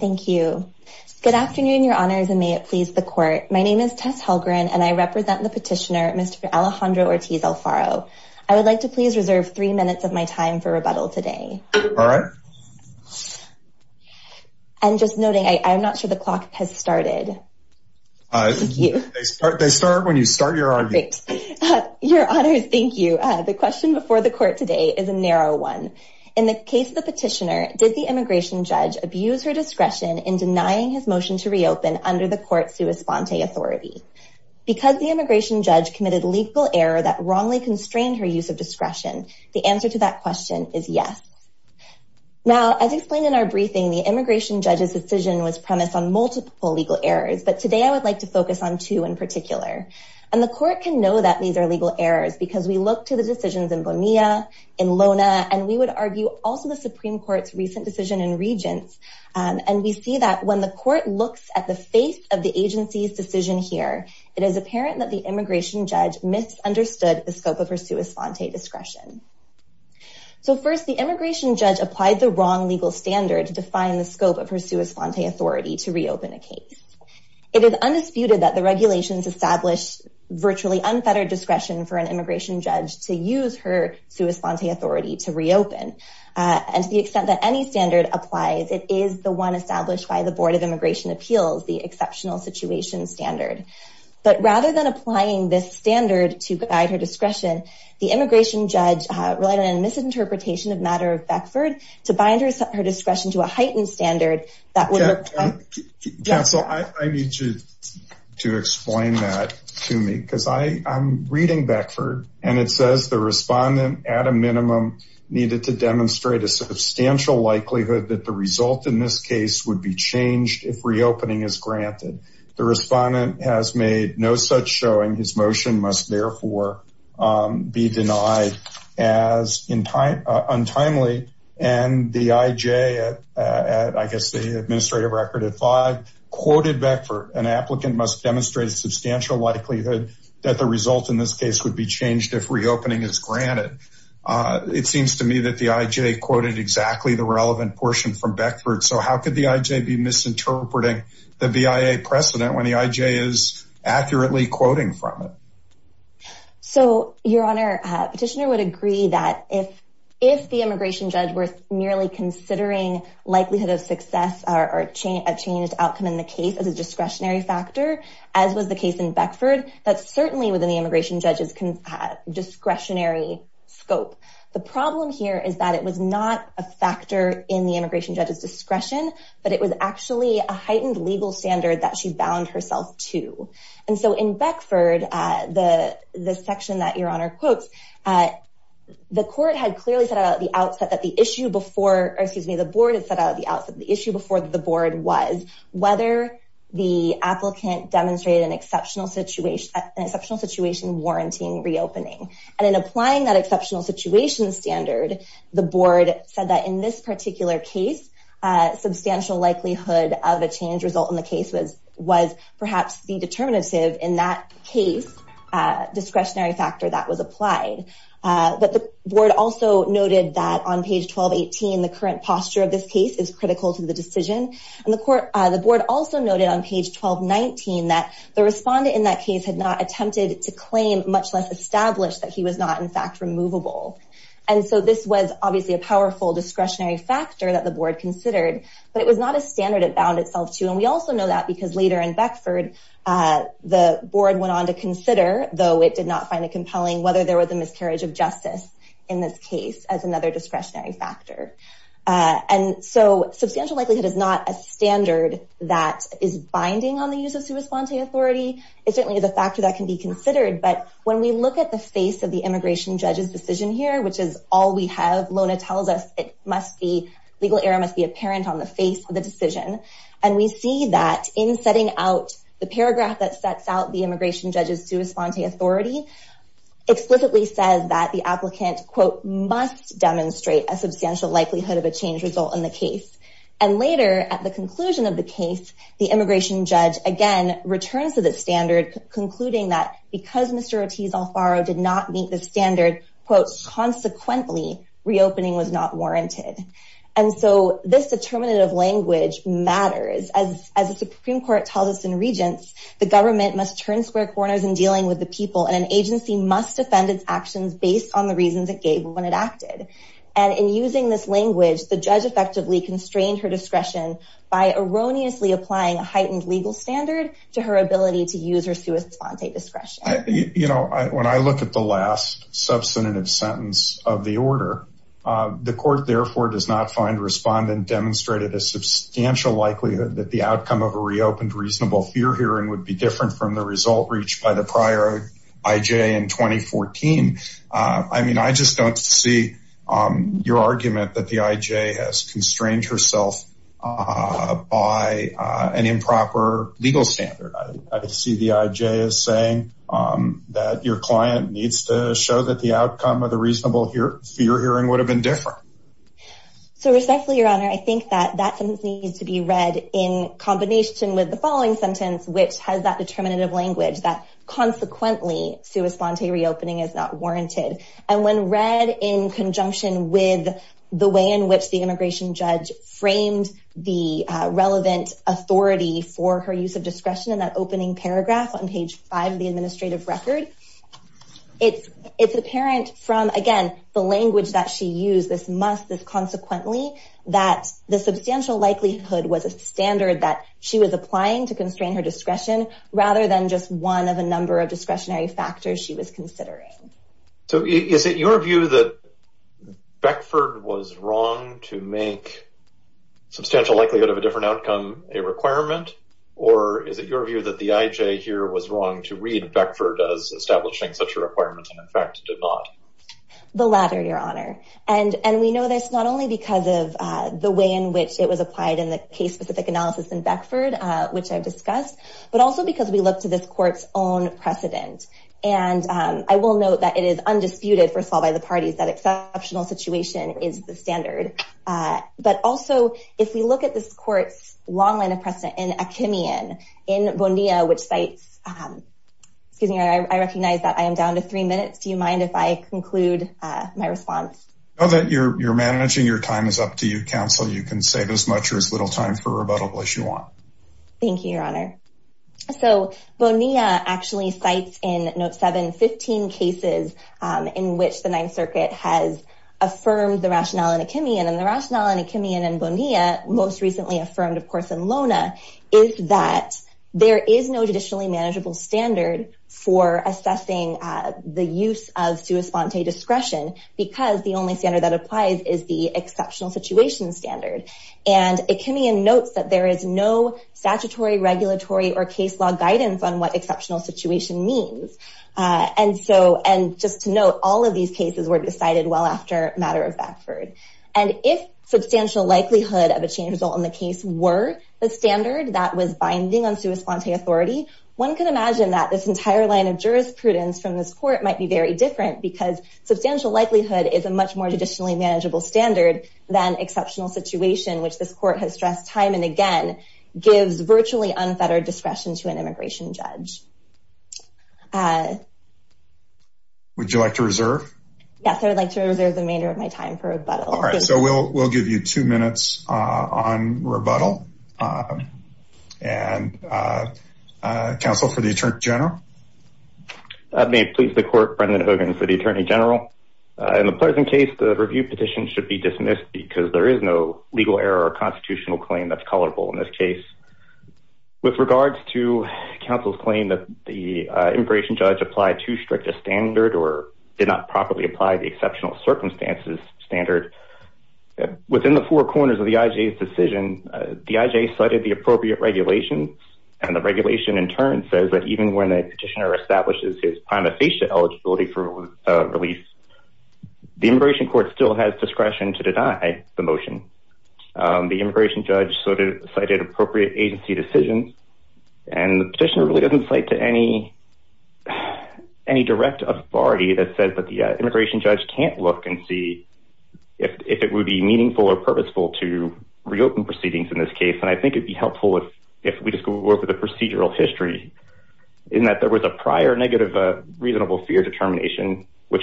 Thank you. Good afternoon, your honors, and may it please the court. My name is Tess Halgren and I represent the petitioner Mr. Alejandro Ortiz-Alfaro. I would like to please reserve three minutes of my time for rebuttal today. All right. And just noting, I'm not sure the clock has started. Thank you. They start when you start your argument. Your honors, thank you. The question before the court today is a narrow one. In the case of the petitioner, did the in denying his motion to reopen under the court's sua sponte authority? Because the immigration judge committed legal error that wrongly constrained her use of discretion, the answer to that question is yes. Now, as explained in our briefing, the immigration judge's decision was premised on multiple legal errors, but today I would like to focus on two in particular. And the court can know that these are legal errors because we look to the decisions in Bonilla, in Lona, and we would argue also the Supreme Court's recent decision in Regents. And we see that when the court looks at the face of the agency's decision here, it is apparent that the immigration judge misunderstood the scope of her sua sponte discretion. So first, the immigration judge applied the wrong legal standard to define the scope of her sua sponte authority to reopen a case. It is undisputed that the regulations establish virtually unfettered discretion for an immigration judge to use her sua sponte authority to reopen. And to the extent that any standard applies, it is the one established by the Board of Immigration Appeals, the exceptional situation standard. But rather than applying this standard to guide her discretion, the immigration judge relied on a misinterpretation of matter of to bind her discretion to a heightened standard. Counsel, I need you to explain that to me because I'm reading Beckford and it says the respondent at a minimum needed to demonstrate a substantial likelihood that the result in this case would be changed if reopening is granted. The respondent has made no such showing. His motion must therefore be denied as untimely and the IJ at I guess the administrative record at five quoted Beckford, an applicant must demonstrate a substantial likelihood that the result in this case would be changed if reopening is granted. It seems to me that the IJ quoted exactly the relevant portion from Beckford. So how could the IJ be misinterpreting the BIA precedent when the IJ is accurately quoting from it? So your honor, petitioner would agree that if if the immigration judge were nearly considering likelihood of success or a change outcome in the case as a discretionary factor, as was the case in Beckford, that's certainly within the immigration judge's discretionary scope. The problem here is that it was not a factor in the immigration judge's discretion, but it was actually a heightened legal standard that she bound herself to. And so in Beckford, the section that your honor quotes, the court had clearly set out at the outset that the issue before, or excuse me, the board had set out at the outset, the issue before the board was whether the applicant demonstrated an exceptional situation, an exceptional situation warranting reopening. And in applying that exceptional situation standard, the board said that in this particular case, a substantial likelihood of a change result in the case was was perhaps the case discretionary factor that was applied. But the board also noted that on page 1218, the current posture of this case is critical to the decision. And the court, the board also noted on page 1219 that the respondent in that case had not attempted to claim much less established that he was not in fact removable. And so this was obviously a powerful discretionary factor that the board considered, but it was not a standard it bound itself to. And we also know that because later in Beckford, the board went on to consider though it did not find it compelling, whether there was a miscarriage of justice in this case as another discretionary factor. And so substantial likelihood is not a standard that is binding on the use of sui sponte authority. It certainly is a factor that can be considered. But when we look at the face of the immigration judge's decision here, which is all we have, Lona tells us it must be legal error must be apparent on the face of the paragraph that sets out the immigration judge's sui sponte authority explicitly says that the applicant quote, must demonstrate a substantial likelihood of a change result in the case. And later at the conclusion of the case, the immigration judge again returns to the standard concluding that because Mr. Ortiz Alfaro did not meet the standard, quote, consequently reopening was not warranted. And so this determinative language matters. As the Supreme Court tells us in Regents, the government must turn square corners in dealing with the people and an agency must defend its actions based on the reasons it gave when it acted. And in using this language, the judge effectively constrained her discretion by erroneously applying a heightened legal standard to her ability to use her sui sponte discretion. You know, when I look at the last sentence of the order, the court therefore does not find respondent demonstrated a substantial likelihood that the outcome of a reopened reasonable fear hearing would be different from the result reached by the prior IJ in 2014. I mean, I just don't see your argument that the IJ has constrained herself by an improper legal standard. I see the IJ as saying that your client needs to show that the outcome of the reasonable fear hearing would have been different. So respectfully, Your Honor, I think that that sentence needs to be read in combination with the following sentence, which has that determinative language that consequently sui sponte reopening is not warranted. And when read in conjunction with the way in which the immigration judge framed the relevant authority for her use of discretion in that opening paragraph on page five of the administrative record, it's apparent from, again, the language that she used, this must, this consequently, that the substantial likelihood was a standard that she was applying to constrain her discretion rather than just one of a number of discretionary factors she was considering. So is it your view that Beckford was wrong to make substantial likelihood of a outcome a requirement, or is it your view that the IJ here was wrong to read Beckford as establishing such a requirement, and in fact did not? The latter, Your Honor. And we know this not only because of the way in which it was applied in the case-specific analysis in Beckford, which I've discussed, but also because we look to this court's own precedent. And I will note that it is undisputed, first of all, by the parties that exceptional situation is the standard. But also, if we look at this court's long line of precedent in Akimian, in Bonilla, which cites, excuse me, I recognize that I am down to three minutes. Do you mind if I conclude my response? No, that you're managing your time is up to you, counsel. You can save as much or as little time for rebuttal as you want. Thank you, Your Honor. So Bonilla actually cites in note 7, 15 cases in which the Ninth Circuit has affirmed the rationale in Akimian. And the rationale in Akimian and Bonilla, most recently affirmed, of course, in Lona, is that there is no judicially manageable standard for assessing the use of sua sponte discretion because the only standard that applies is the exceptional situation standard. And Akimian notes that there is no statutory, regulatory, or case law guidance on what exceptional situation means. And just to note, all of these cases were decided well after a matter of fact. And if substantial likelihood of a change result in the case were the standard that was binding on sua sponte authority, one could imagine that this entire line of jurisprudence from this court might be very different because substantial likelihood is a much more judicially manageable standard than exceptional situation, which this court has stressed time and again, gives virtually unfettered discretion to an immigration judge. Would you like to reserve? Yes, I would like to reserve the remainder of my time for rebuttal. All right, so we'll give you two minutes on rebuttal. And counsel for the Attorney General. I may please the court, Brendan Hogan for the Attorney General. In the present case, the review petition should be dismissed because there is no legal error or constitutional claim that's colorable in this case. With regards to counsel's claim that the immigration judge applied too strict a standard or did not properly apply the exceptional circumstances standard. Within the four corners of the IJ's decision, the IJ cited the appropriate regulations. And the regulation in turn says that even when a petitioner establishes his prima facie eligibility for release, the immigration court still has discretion to deny the motion. The immigration judge sort of cited appropriate agency decisions. And the petitioner really doesn't cite to any direct authority that says that the immigration judge can't look and see if it would be meaningful or purposeful to reopen proceedings in this case. And I think it'd be helpful if we just go over the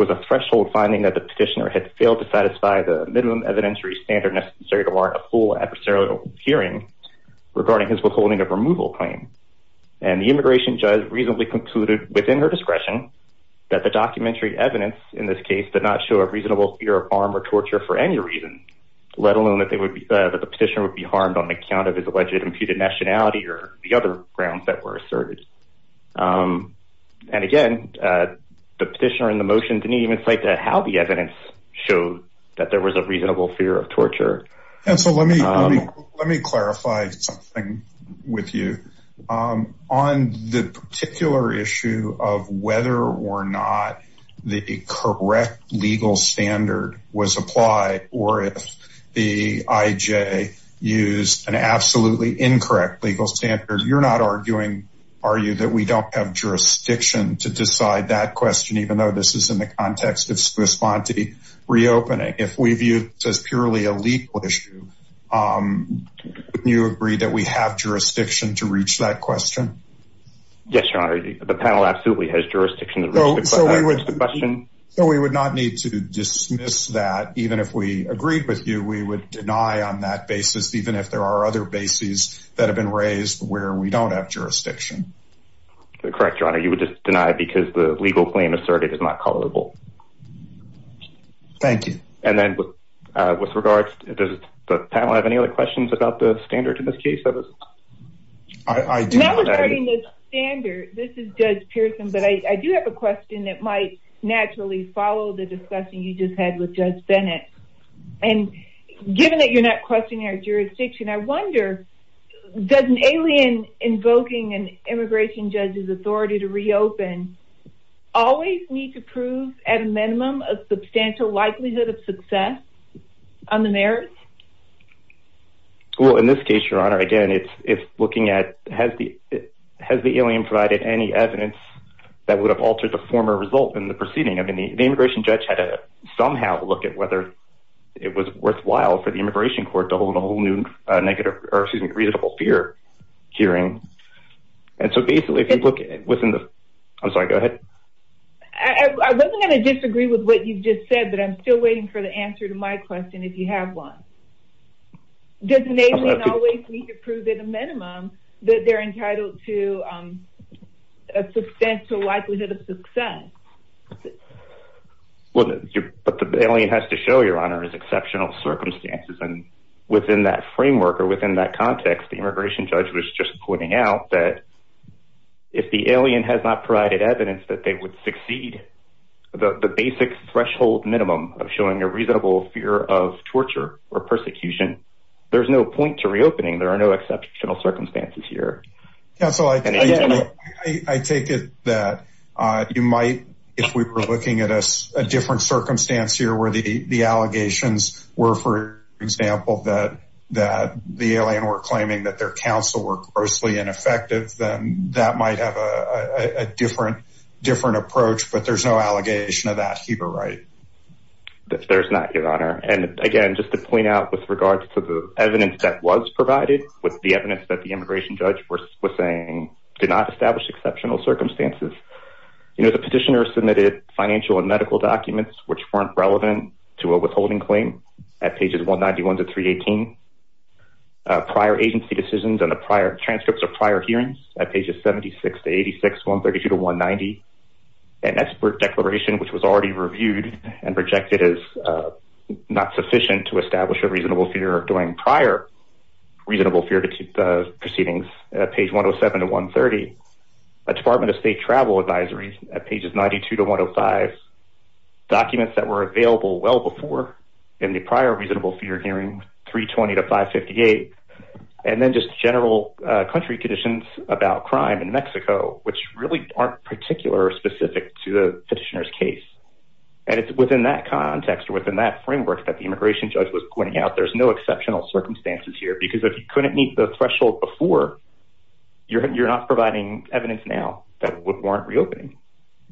was a threshold finding that the petitioner had failed to satisfy the minimum evidentiary standard necessary to warrant a full adversarial hearing regarding his withholding of removal claim. And the immigration judge reasonably concluded within her discretion that the documentary evidence in this case did not show a reasonable fear of harm or torture for any reason, let alone that the petitioner would be harmed on account of his alleged imputed nationality or the other grounds that were asserted. And again, the petitioner in the motion didn't even cite how the evidence showed that there was a reasonable fear of torture. And so let me clarify something with you. On the particular issue of whether or not the correct legal standard was applied, or if the IJ used an absolutely incorrect legal standard, you're not arguing, are you, that we don't have jurisdiction to decide that question, even though this is in the context of Swiss Bonti reopening? If we view this as purely a legal issue, you agree that we have jurisdiction to reach that question? Yes, Your Honor, the panel absolutely has jurisdiction. So we would not need to dismiss that, even if we agreed with you, we would deny on that basis, even if there are other bases that have been raised where we don't have jurisdiction. Correct, Your Honor, you would just deny because the legal claim asserted is not callable. Thank you. And then with regards, does the panel have any other questions about the standard in this case? I do have a question that might naturally follow the discussion you just had with Judge Bennett. And given that you're not questioning our jurisdiction, I wonder, does an alien invoking an immigration judge's authority to reopen always need to prove at a minimum of substantial likelihood of success on the merits? Well, in this case, Your Honor, again, it's looking at has the alien provided any evidence that would have altered the former result in the proceeding? I mean, the immigration judge had to somehow look at whether it was worthwhile for the immigration court to hold a whole new negative or excuse me, reasonable fear hearing. And so basically, if you look within the, I'm sorry, go ahead. I wasn't going to disagree with what you just said, but I'm still waiting for the answer to my question if you have one. Does an alien always need to prove at a minimum that they're entitled to a substantial likelihood of success? Well, what the alien has to show, Your Honor, is exceptional circumstances. And within that framework or within that context, the immigration judge was just pointing out that if the alien has not provided evidence that they would succeed, the basic threshold minimum of showing a reasonable fear of torture or persecution, there's no point to reopening. There are no exceptional circumstances here. Counselor, I take it that you might, if we were looking at a different circumstance here where the allegations were, for example, that the alien were claiming that their counsel were grossly ineffective, then that might have a different approach, but there's no allegation of that. There's not, Your Honor. And again, just to point out with regards to the evidence that was provided with the evidence that the immigration judge was saying did not establish exceptional circumstances. The petitioner submitted financial and medical documents which weren't relevant to a withholding claim at pages 191 to 318. Prior agency decisions and the prior transcripts at pages 76 to 86, 132 to 190. An expert declaration which was already reviewed and projected as not sufficient to establish a reasonable fear during prior reasonable fear proceedings at page 107 to 130. A Department of State travel advisory at pages 92 to 105. Documents that were available well before in the prior reasonable fear hearing 320 to 558. And then just general country conditions about crime in Mexico, which really aren't particular or specific to the petitioner's case. And it's within that context or within that framework that the immigration judge was pointing out. There's no exceptional circumstances here because if you couldn't meet the threshold before, you're not providing evidence now that would warrant reopening.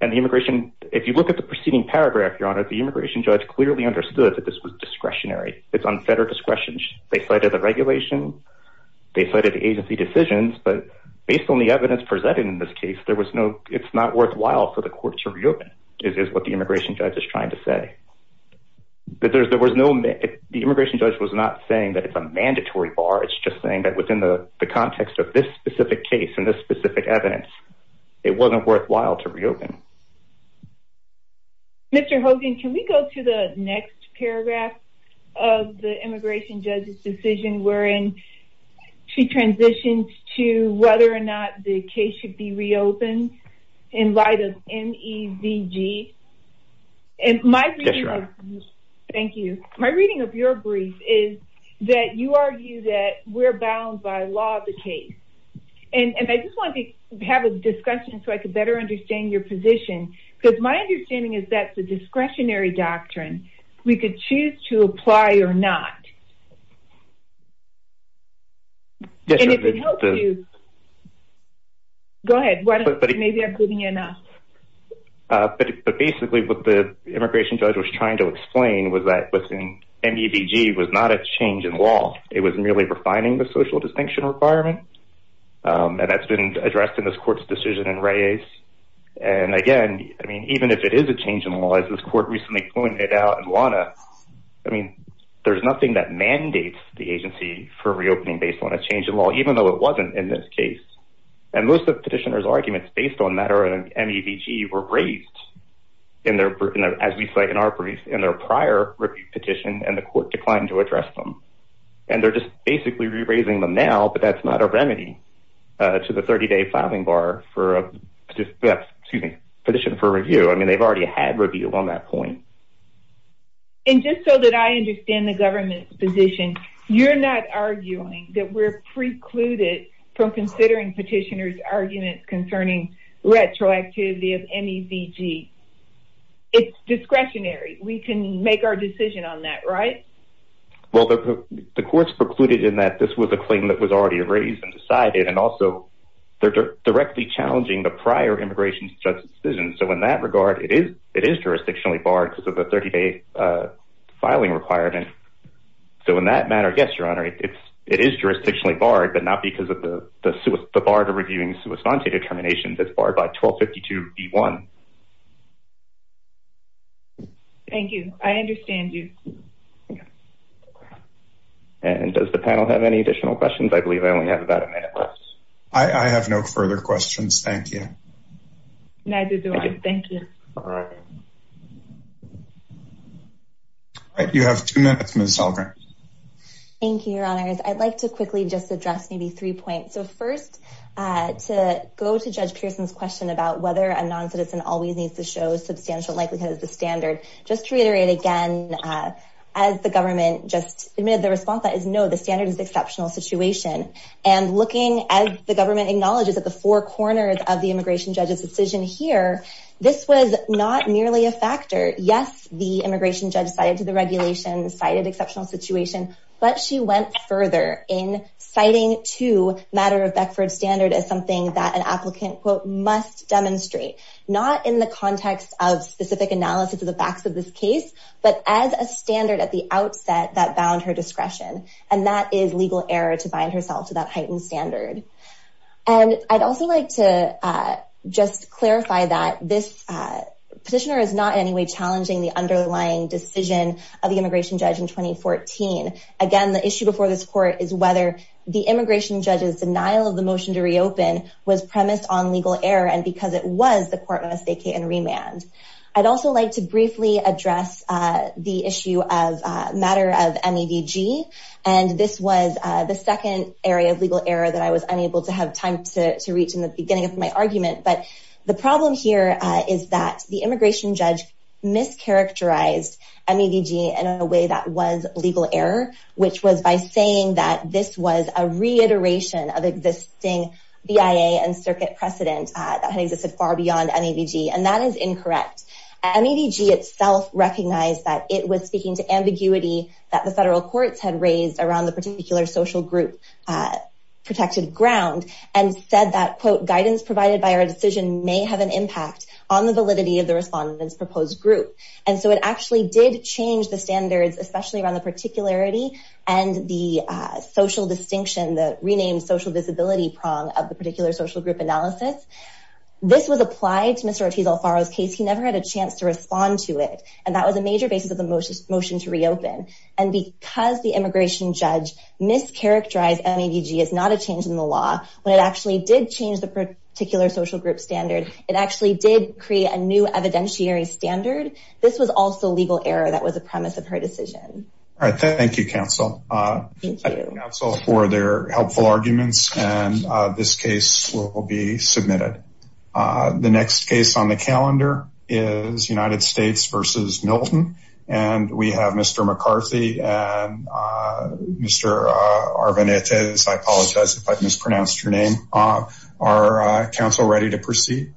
And the immigration, if you look at the preceding paragraph, Your Honor, the immigration judge clearly understood that this was discretionary. It's unfettered discretion. They cited the regulation. They cited agency decisions. But based on the evidence presented in this case, there was no, it's not worthwhile for the court to reopen is what the immigration judge is trying to say. But there was no, the immigration judge was not saying that it's a mandatory bar. It's just saying that within the context of this specific case and this specific evidence, it wasn't worthwhile to reopen. Mr. Hogan, can we go to the next paragraph of the immigration judge's decision wherein she transitions to whether or not the case should be reopened in light of M. E. V. G. And my thank you. My reading of your brief is that you argue that we're bound by law of the case. And I just wanted to have a discussion so I could better understand your position because my understanding is that the discretionary doctrine, we could choose to apply or not. Go ahead. Maybe I'm giving you enough. But basically what the immigration judge was trying to explain was that within M. E. V. G. was not a change in law. It was merely refining the social distinction requirement. And that's been addressed in this court's decision and race. And again, I mean, even if it is a change in law, as this court recently pointed out and wanna, I mean, there's nothing that mandates the agency for reopening based on a change in law, even though it wasn't in this case. And most of the petitioner's arguments based on that are M. E. V. G. were raised in their, as we say in our brief, in their prior petition, and the court declined to address them. And they're just basically re-raising them now, but that's not a remedy to the 30 day filing bar for a petition for review. I mean, they've already had review on that point. And just so that I understand the government's position, you're not arguing that we're precluded from considering petitioners arguments concerning retroactivity of M. E. V. G. It's discretionary. We can make our decision on that, right? Well, the court's precluded in that this was a claim that was already raised and decided, and also they're directly challenging the prior immigration judge's decision. So in that regard, it is jurisdictionally barred because of the 30 day filing requirement. So in that matter, yes, your honor, it is jurisdictionally barred, but not because of the bar to reviewing determinations that's barred by 1252. V. 1. Thank you. I understand you. And does the panel have any additional questions? I believe I only have about a minute left. I have no further questions. Thank you. Neither do I. Thank you. All right. You have two minutes, Ms. Sahlgren. Thank you, your honors. I'd like to quickly just address maybe three points. So first, to go to Judge Pearson's question about whether a non-citizen always needs to show substantial likelihood as the standard. Just to reiterate again, as the government just admitted the response that is no, the standard is exceptional situation. And looking as the government acknowledges at the four corners of the immigration judge's decision here, this was not merely a factor. Yes, the immigration judge cited to the regulation, cited exceptional situation, but she went further in citing to matter of Beckford standard as something that an applicant quote, must demonstrate, not in the context of specific analysis of the facts of this case, but as a standard at the outset that bound her discretion. And that is legal error to bind herself to that heightened standard. And I'd also like to just clarify that this petitioner is not challenging the underlying decision of the immigration judge in 2014. Again, the issue before this court is whether the immigration judge's denial of the motion to reopen was premised on legal error and because it was the court must vacate and remand. I'd also like to briefly address the issue of matter of MEDG. And this was the second area of legal error that I was unable to have time to reach in the beginning of my argument. But the problem here is that the mischaracterized MEDG in a way that was legal error, which was by saying that this was a reiteration of existing BIA and circuit precedent that had existed far beyond MEDG. And that is incorrect. MEDG itself recognized that it was speaking to ambiguity that the federal courts had raised around the particular social group protected ground and said that quote, guidance provided by our decision may have an impact on the validity of the respondents proposed group. And so it actually did change the standards, especially around the particularity and the social distinction, the renamed social disability prong of the particular social group analysis. This was applied to Mr. Ortiz Alfaro's case. He never had a chance to respond to it. And that was a major basis of the motion to reopen. And because the immigration judge mischaracterized MEDG as not a change in the law, when it actually did change the particular social group standard, it actually did create a new evidentiary standard. This was also legal error that was a premise of her decision. All right. Thank you, counsel. Thank you, counsel, for their helpful arguments. And this case will be submitted. The next case on the calendar is United States versus Milton. And we have Mr. McCarthy and Mr. Arvanites. I apologize if I mispronounced your name. Are counsel ready to proceed?